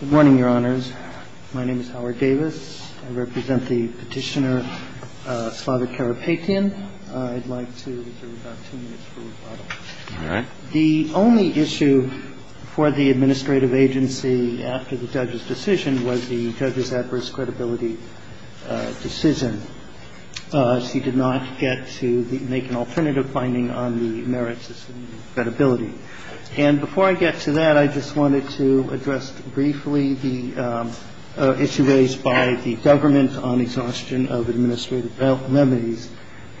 Good morning, Your Honors. My name is Howard Davis. I represent the petitioner Slava Karapetyan. I'd like to reserve about two minutes for rebuttal. All right. The only issue for the administrative agency after the judge's decision was the judge's adverse credibility decision. She did not get to make an alternative finding on the merits of credibility. And before I get to that, I just wanted to address briefly the issue raised by the government on exhaustion of administrative remedies,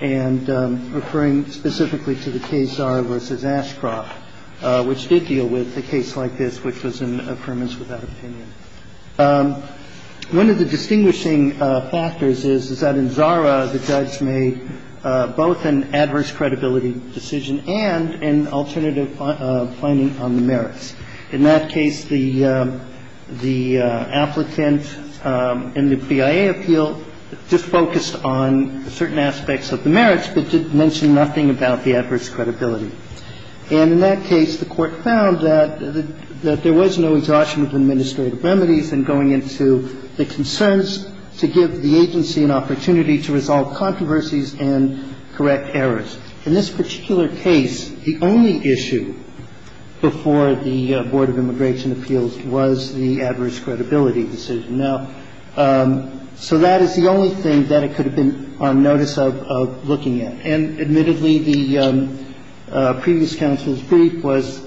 and referring specifically to the case Zara v. Ashcroft, which did deal with a case like this, which was an affirmance without opinion. One of the distinguishing factors is that in Zara, the judge made both an adverse credibility decision and an alternative finding on the merits. In that case, the applicant in the BIA appeal just focused on certain aspects of the merits, but didn't mention nothing about the adverse credibility. And in that case, the Court found that there was no exhaustion of administrative remedies in going into the concerns to give the agency an opportunity to resolve controversies and correct errors. In this particular case, the only issue before the Board of Immigration Appeals was the adverse credibility decision. Now, so that is the only thing that it could have been on notice of looking at. And admittedly, the previous counsel's brief was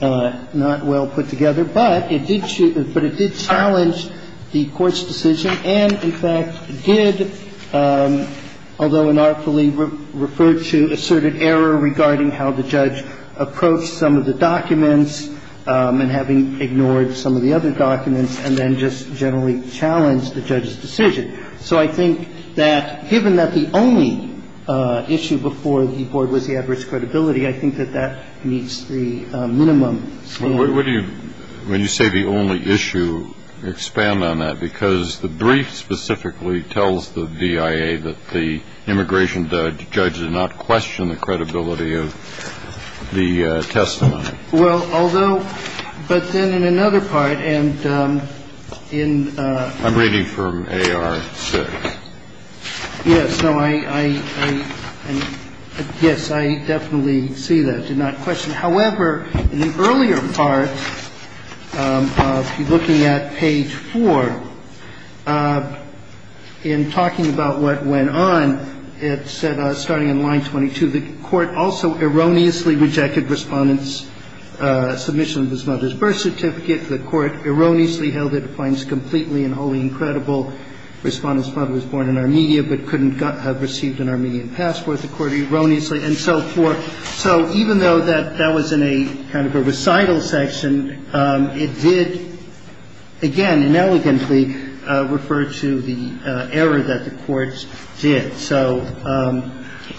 not well put together, but it did challenge the Court's decision and, in fact, did, although inartfully, refer to asserted error regarding how the judge approached some of the documents and having ignored some of the other documents and then just generally challenged the judge's decision. So I think that given that the only issue before the Board was the adverse credibility, I think that that meets the minimum. Well, what do you, when you say the only issue, expand on that? Because the brief specifically tells the BIA that the immigration judge did not question the credibility of the testimony. Well, although, but then in another part, and in the... I'm reading from AR 6. Yes. No, I, I, yes, I definitely see that, did not question. However, in the earlier part, if you're looking at page 4, in talking about what went on, it said, starting in line 22, the Court also erroneously rejected Respondent's submission of his mother's birth certificate. The Court erroneously held it finds completely and wholly incredible. Respondent's mother was born in Armenia but couldn't have received an Armenian passport. The Court erroneously, and so forth. So even though that, that was in a kind of a recital section, it did, again, inelegantly refer to the error that the Court did. So...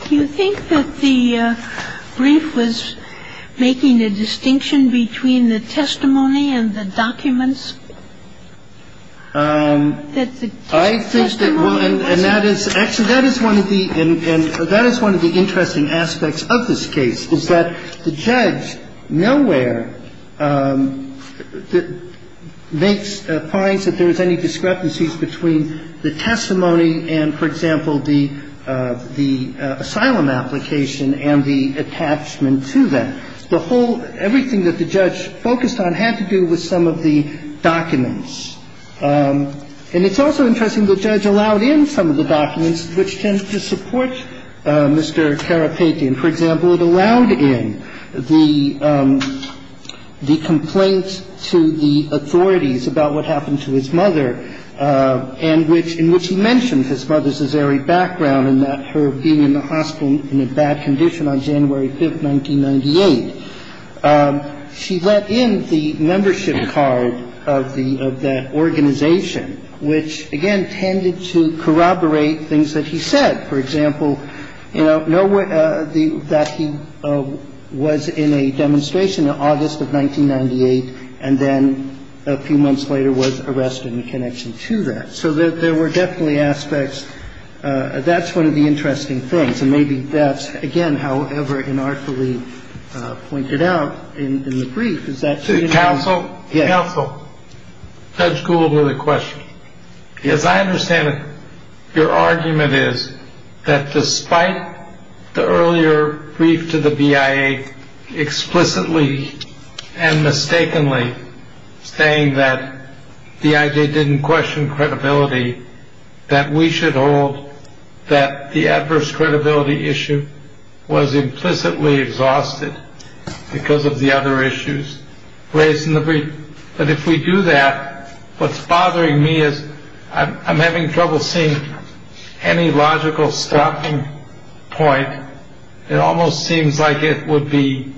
Do you think that the brief was making a distinction between the testimony and the documents? That the testimony... I think that, well, and that is, actually, that is one of the, and that is one of the interesting aspects of this case, is that the judge nowhere makes, finds that there is any discrepancies between the testimony and, for example, the, the asylum application and the attachment to that. The whole, everything that the judge focused on had to do with some of the documents. And it's also interesting the judge allowed in some of the documents which tend to support Mr. Karapetyan. For example, it allowed in the, the complaint to the authorities about what happened to his mother and which, in which he mentioned his mother's azure background and that her being in the hospital in a bad condition on January 5th, 1998. She let in the membership card of the, of that organization, which, again, tended to corroborate things that he said. For example, you know, that he was in a demonstration in August of 1998 and then a few months later was arrested in connection to that. So there were definitely aspects. That's one of the interesting things. And maybe that's, again, however, inartfully pointed out in the brief is that. Counsel. Counsel. Judge Gould with a question. Yes, I understand. Your argument is that despite the earlier brief to the BIA explicitly and mistakenly saying that the idea didn't question credibility, that we should hold that the adverse credibility issue was implicitly exhausted because of the other issues raised in the brief. But if we do that, what's bothering me is I'm having trouble seeing any logical stopping point. It almost seems like it would be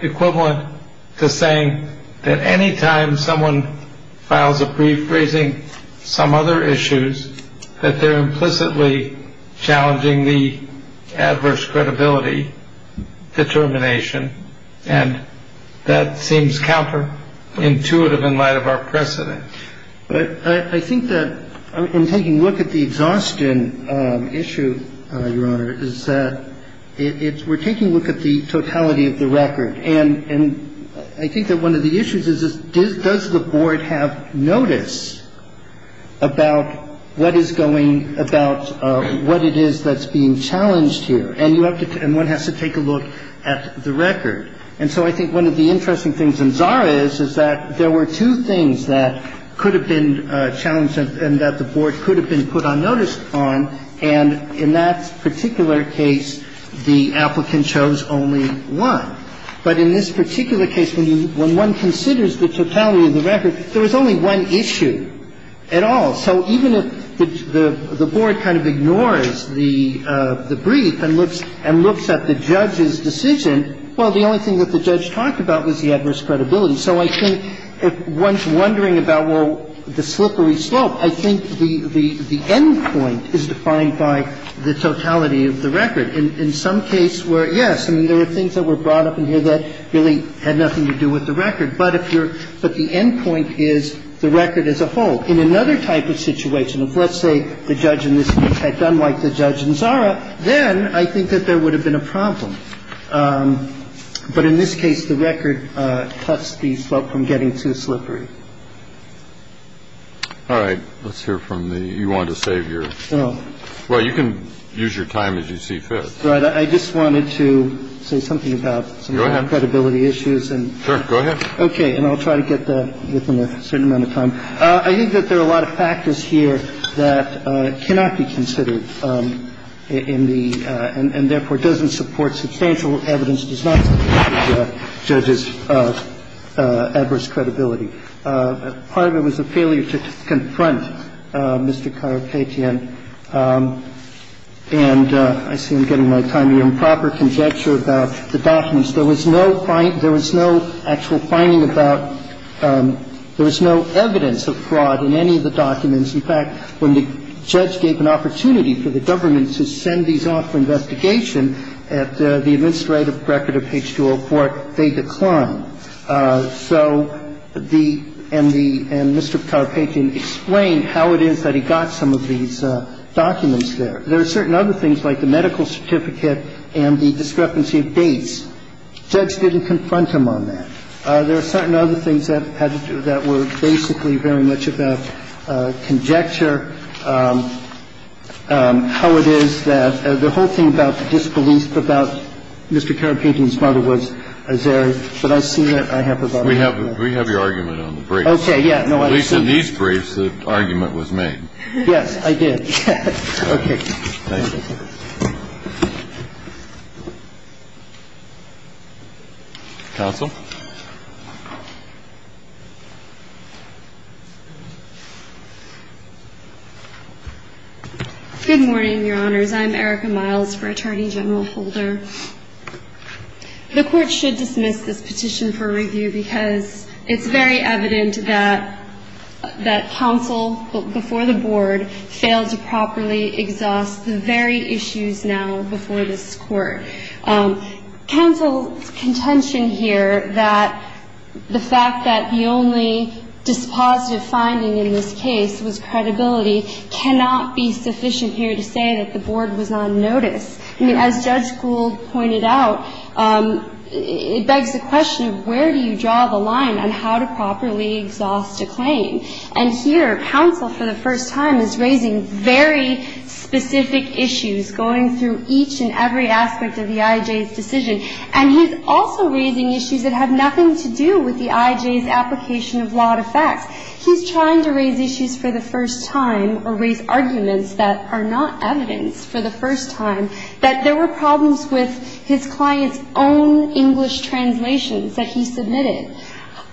equivalent to saying that any time someone files a brief raising some other issues, that they're implicitly challenging the adverse credibility determination. And that seems counterintuitive in light of our precedent. But I think that in taking a look at the exhaustion issue, Your Honor, is that we're taking a look at the totality of the record. And I think that one of the issues is, does the Board have notice about what is going about what it is that's being challenged here? And you have to — and one has to take a look at the record. And so I think one of the interesting things in Zara is, is that there were two things that could have been challenged and that the Board could have been put on notice on. And in that particular case, the applicant chose only one. But in this particular case, when one considers the totality of the record, there was only one issue at all. So even if the Board kind of ignores the brief and looks at the judge's decision, well, the only thing that the judge talked about was the adverse credibility. So I think if one's wondering about, well, the slippery slope, I think the end point is defined by the totality of the record. In some case where, yes, I mean, there were things that were brought up in here that really had nothing to do with the record. But if you're — but the end point is the record as a whole. In another type of situation, if, let's say, the judge in this case had done like the judge in Zara, then I think that there would have been a problem. But in this case, the record cuts the slope from getting too slippery. All right. Let's hear from the — you wanted to save your — well, you can use your time as you see fit. Right. I just wanted to say something about some of the credibility issues and — Sure. Go ahead. Okay. And I'll try to get that within a certain amount of time. I think that there are a lot of factors here that cannot be considered in the — and therefore doesn't support substantial evidence, does not support the judge's adverse credibility. Part of it was a failure to confront Mr. Carapetian. And I see I'm getting my time here. Improper conjecture about the documents. There was no actual finding about — there was no evidence of fraud in any of the documents. In fact, when the judge gave an opportunity for the government to send these off for investigation at the administrative record of page 204, they declined. So the — and the — and Mr. Carapetian explained how it is that he got some of these documents there. There are certain other things like the medical certificate and the discrepancy of dates. The judge didn't confront him on that. There are certain other things that were basically very much about conjecture, how it is that — the whole thing about the disbelief about Mr. Carapetian's We have your argument on the briefs. Okay, yeah. At least in these briefs, the argument was made. Yes, I did. Okay. Thank you. Counsel? Good morning, Your Honors. I'm Erica Miles for Attorney General Holder. The Court should dismiss this petition for review because it's very evident that — that counsel before the Board failed to properly exhaust the very issues now before this Court. Counsel's contention here that the fact that the only dispositive finding in this case was credibility cannot be sufficient here to say that the Board was on notice. As Judge Gould pointed out, it begs the question of where do you draw the line on how to properly exhaust a claim? And here, counsel for the first time is raising very specific issues, going through each and every aspect of the I.J.'s decision. And he's also raising issues that have nothing to do with the I.J.'s application of law to facts. He's trying to raise issues for the first time or raise arguments that are not evidence for the first time that there were problems with his client's own English translations that he submitted.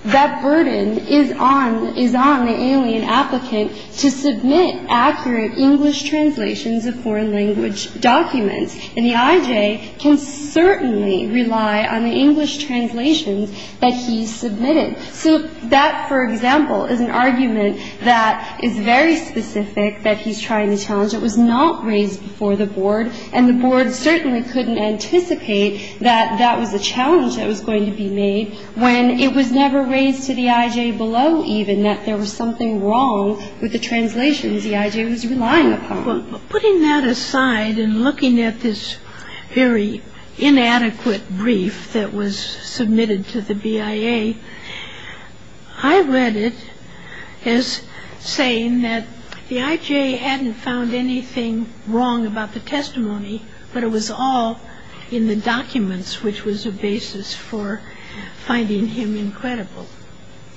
That burden is on — is on the alien applicant to submit accurate English translations of foreign language documents. And the I.J. can certainly rely on the English translations that he submitted. So that, for example, is an argument that is very specific that he's trying to challenge. It was not raised before the Board, and the Board certainly couldn't anticipate that that was a challenge that was going to be made when it was never raised to the I.J. below even that there was something wrong with the translations the I.J. was relying upon. But putting that aside and looking at this very inadequate brief that was submitted to the BIA, I read it as saying that the I.J. hadn't found anything wrong about the testimony, but it was all in the documents, which was a basis for finding him incredible.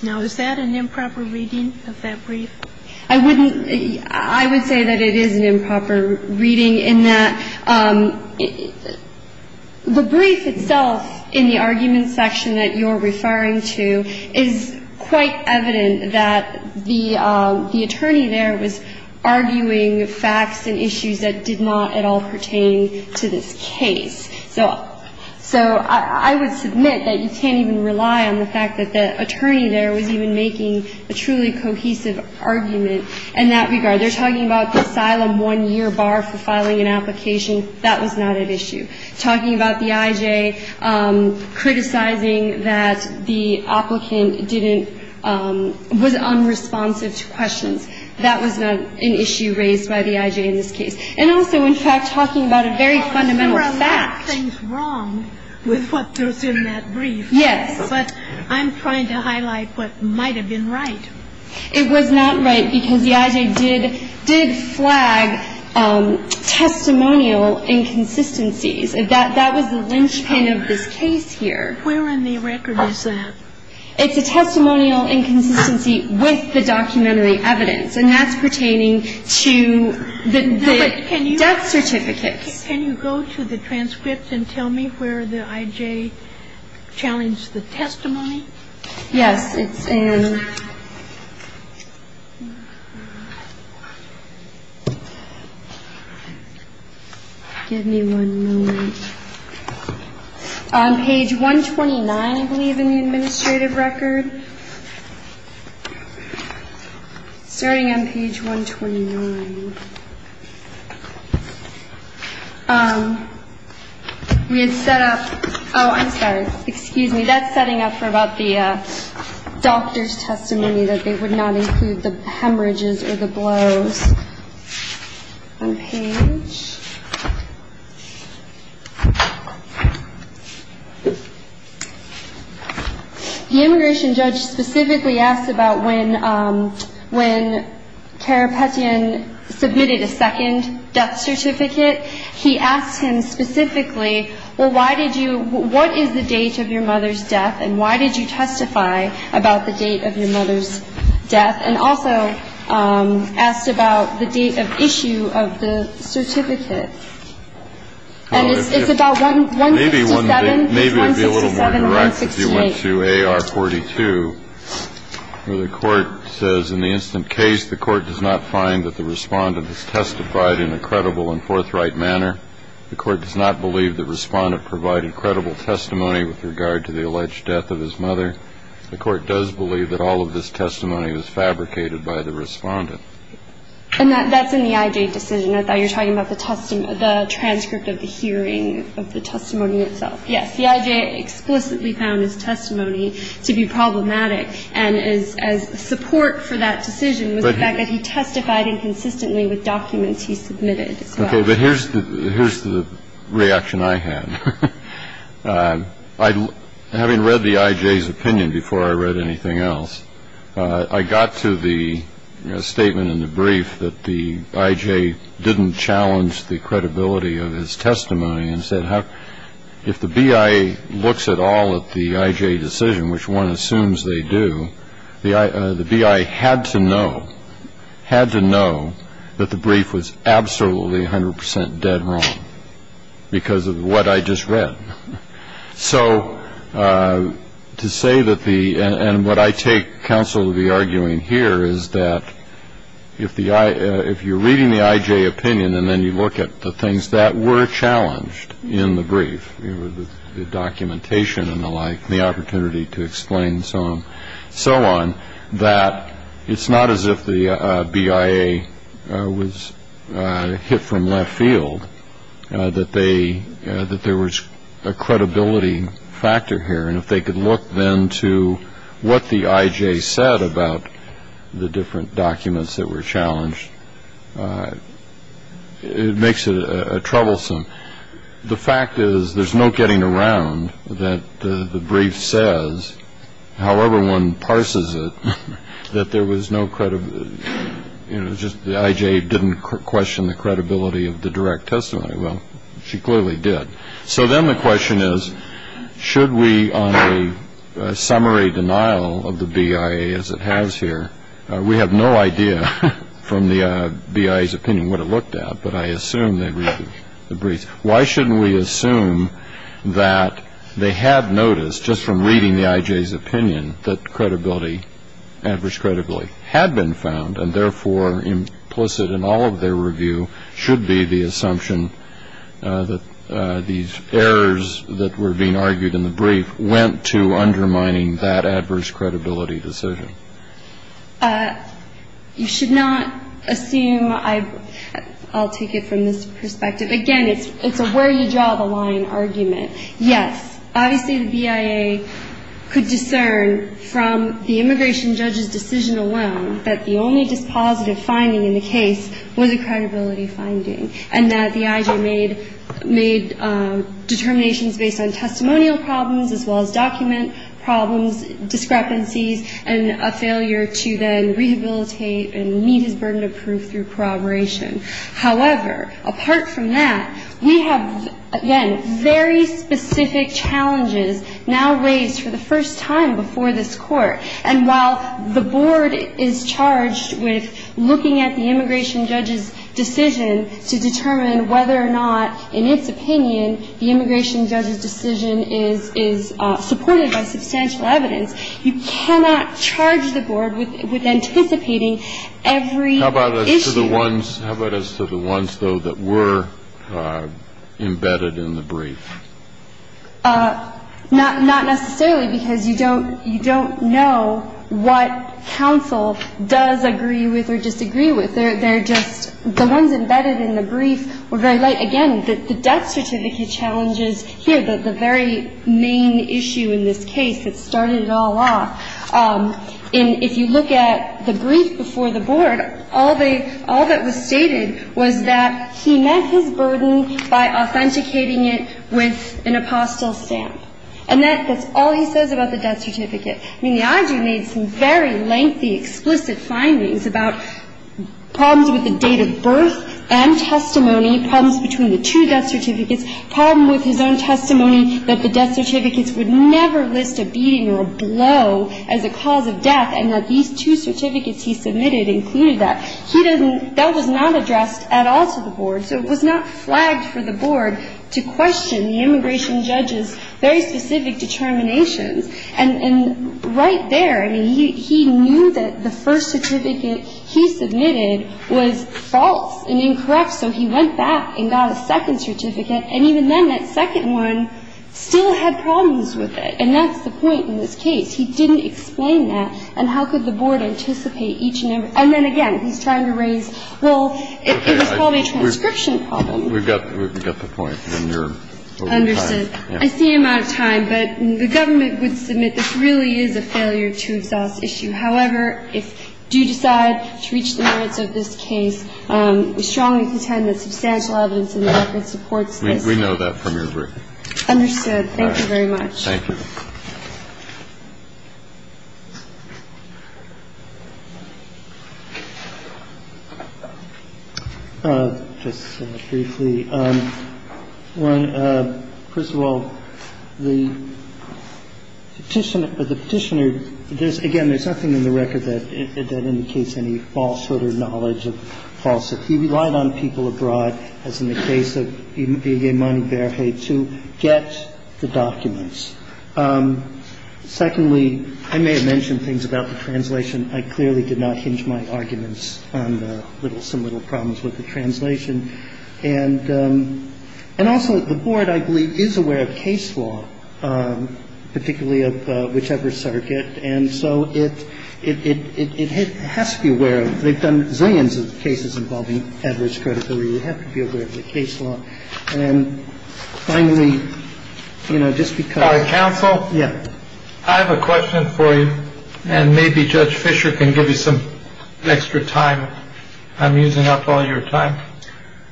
Now, is that an improper reading of that brief? I wouldn't — I would say that it is an improper reading in that the brief itself in the argument section that you're referring to is quite evident that the attorney there was arguing facts and issues that did not at all pertain to this case. So I would submit that you can't even rely on the fact that the attorney there was even making a truly cohesive argument in that regard. They're talking about the asylum one-year bar for filing an application. That was not at issue. Talking about the I.J., criticizing that the applicant didn't — was unresponsive to questions, that was not an issue raised by the I.J. in this case. And also, in fact, talking about a very fundamental fact. There were a lot of things wrong with what goes in that brief. Yes. But I'm trying to highlight what might have been right. It was not right because the I.J. did flag testimonial inconsistencies. That was the linchpin of this case here. Where in the record is that? It's a testimonial inconsistency with the documentary evidence. And that's pertaining to the death certificates. Can you go to the transcripts and tell me where the I.J. challenged the testimony? Yes, it's in — give me one moment. On page 129, I believe, in the administrative record. Starting on page 129. We had set up — oh, I'm sorry, excuse me. That's setting up for about the doctor's testimony, that they would not include the hemorrhages or the blows. On page — The immigration judge specifically asked about when Carapetian submitted a second death certificate. He asked him specifically, well, why did you — what is the date of your mother's death? And why did you testify about the date of your mother's death? And also asked about the date of issue of the certificate. And it's about 157. Maybe it would be a little more direct if you went to AR-42, where the court says, in the instant case, the court does not find that the respondent has testified in a credible and forthright manner. The court does not believe the respondent provided credible testimony with regard to the alleged death of his mother. The court does believe that all of this testimony was fabricated by the respondent. And that's in the I.J. decision. I thought you were talking about the transcript of the hearing of the testimony itself. Yes. The I.J. explicitly found his testimony to be problematic. And his support for that decision was the fact that he testified inconsistently with documents he submitted as well. But here's the reaction I had. Having read the I.J.'s opinion before I read anything else, I got to the statement in the brief that the I.J. didn't challenge the credibility of his testimony and said, if the B.I. looks at all at the I.J. decision, which one assumes they do, the B.I. had to know, had to know that the brief was absolutely 100 percent dead wrong because of what I just read. So to say that the – and what I take counsel to be arguing here is that if you're reading the I.J. opinion and then you look at the things that were challenged in the brief, the documentation and the like, the opportunity to explain and so on, that it's not as if the B.I.A. was hit from left field, that they – that there was a credibility factor here. And if they could look then to what the I.J. said about the different documents that were challenged, it makes it troublesome. The fact is there's no getting around that the brief says, however one parses it, that there was no – you know, just the I.J. didn't question the credibility of the direct testimony. Well, she clearly did. So then the question is, should we on the summary denial of the B.I.A., as it has here, we have no idea from the B.I.'s opinion what it looked at, but I assume they read the brief. Why shouldn't we assume that they had noticed just from reading the I.J.'s opinion that credibility, adverse credibility had been found and therefore implicit in all of their review should be the assumption that these errors that were being argued in the brief went to undermining that adverse credibility decision? You should not assume – I'll take it from this perspective. Again, it's a where you draw the line argument. Yes, obviously the B.I.A. could discern from the immigration judge's decision alone that the only dispositive finding in the case was a credibility finding and that the I.J. made determinations based on testimonial problems as well as document problems, discrepancies, and a failure to then rehabilitate and meet his burden of proof through corroboration. However, apart from that, we have, again, very specific challenges now raised for the first time before this Court. And while the Board is charged with looking at the immigration judge's decision to determine whether or not, in its opinion, the immigration judge's decision is supported by substantial evidence, you cannot charge the Board with anticipating every issue. How about as to the ones, though, that were embedded in the brief? Not necessarily because you don't know what counsel does agree with or disagree with. They're just – the ones embedded in the brief were very light. Again, the death certificate challenges here, the very main issue in this case that started it all off. And if you look at the brief before the Board, all that was stated was that he met his burden by authenticating it with an apostille stamp. And that's all he says about the death certificate. I mean, the IG made some very lengthy, explicit findings about problems with the date of birth and testimony, problems between the two death certificates, problems with his own testimony that the death certificates would never list a beating or a blow as a cause of death, and that these two certificates he submitted included that. He doesn't – that was not addressed at all to the Board. So it was not flagged for the Board to question the immigration judge's very specific determinations. And right there, I mean, he knew that the first certificate he submitted was false and incorrect. So he went back and got a second certificate. And even then, that second one still had problems with it. And that's the point in this case. He didn't explain that. And how could the Board anticipate each and every – and then, again, he's trying to raise – well, it was probably a transcription problem. We've got the point. And you're over time. Understood. I see I'm out of time. But the government would submit this really is a failure to exhaust issue. However, if you do decide to reach the merits of this case, we strongly contend that substantial evidence in the record supports this. We know that from your brief. Understood. Thank you very much. Thank you. Just briefly, one, first of all, the Petitioner – the Petitioner – again, there's nothing in the record that indicates any falsehood or knowledge of falsehood. He relied on people abroad, as in the case of Igemoni Berhe, to get the documents. Secondly, I may have mentioned things about the translation. I clearly did not hinge my arguments on the little – some little problems with the translation. And also, the Board, I believe, is aware of case law, particularly of whichever circuit. And so it has to be aware of – they've done zillions of cases involving average credibility. They have to be aware of the case law. And finally, you know, just because – Counsel? Yeah. I have a question for you, and maybe Judge Fisher can give you some extra time. I'm using up all your time.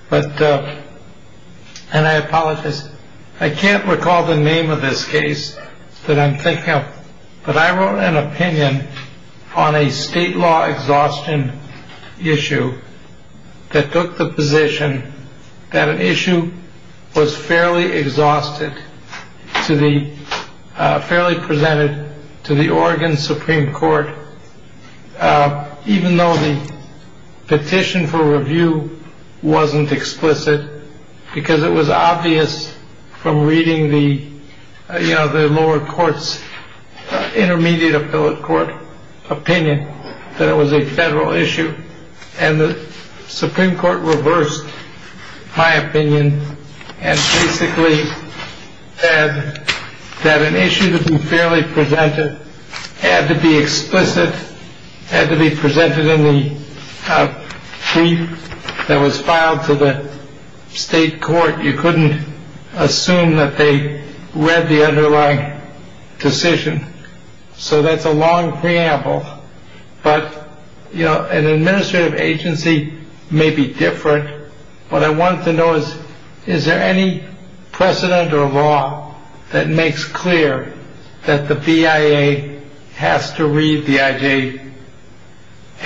But – and I apologize. I can't recall the name of this case that I'm thinking of, but I wrote an opinion on a state law exhaustion issue that took the position that an issue was fairly exhausted to the – fairly presented to the Oregon Supreme Court, even though the petition for review wasn't explicit, because it was obvious from reading the, you know, the lower court's intermediate appellate court opinion that it was a federal issue. And the Supreme Court reversed my opinion, and basically said that an issue that was fairly presented had to be explicit, had to be presented in the brief that was filed to the state court. You couldn't assume that they read the underlying decision. So that's a long preamble. But, you know, an administrative agency may be different. What I want to know is, is there any precedent or law that makes clear that the BIA has to read the IJ –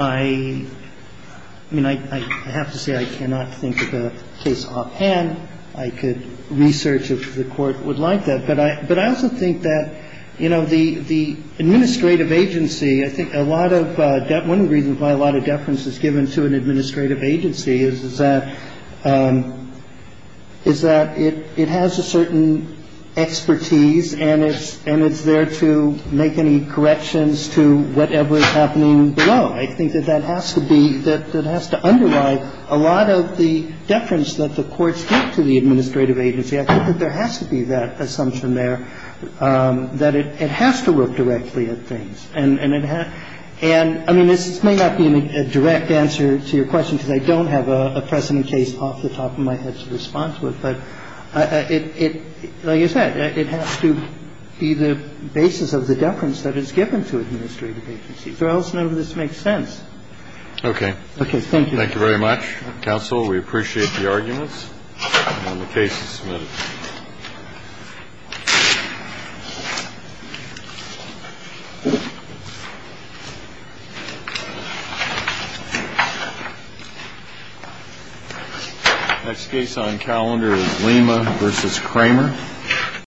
I mean, I have to say I cannot think of a case offhand. I could research if the Court would like that. But I also think that, you know, the administrative agency, I think a lot of – one of the reasons why a lot of deference is given to an administrative agency is that – is that it has a certain expertise, and it's there to make any corrections to whatever is happening below. I think that that has to be – that it has to underlie a lot of the deference that the courts give to the administrative agency. I think that there has to be that assumption there, that it has to look directly at things. And it has – and, I mean, this may not be a direct answer to your question because I don't have a precedent case off the top of my head to respond to it. But it – like I said, it has to be the basis of the deference that is given to administrative agencies or else none of this makes sense. Okay. Okay. Thank you. Thank you very much. Counsel, we appreciate the arguments. And the case is submitted. Thank you. Next case on calendar is Lima v. Kramer.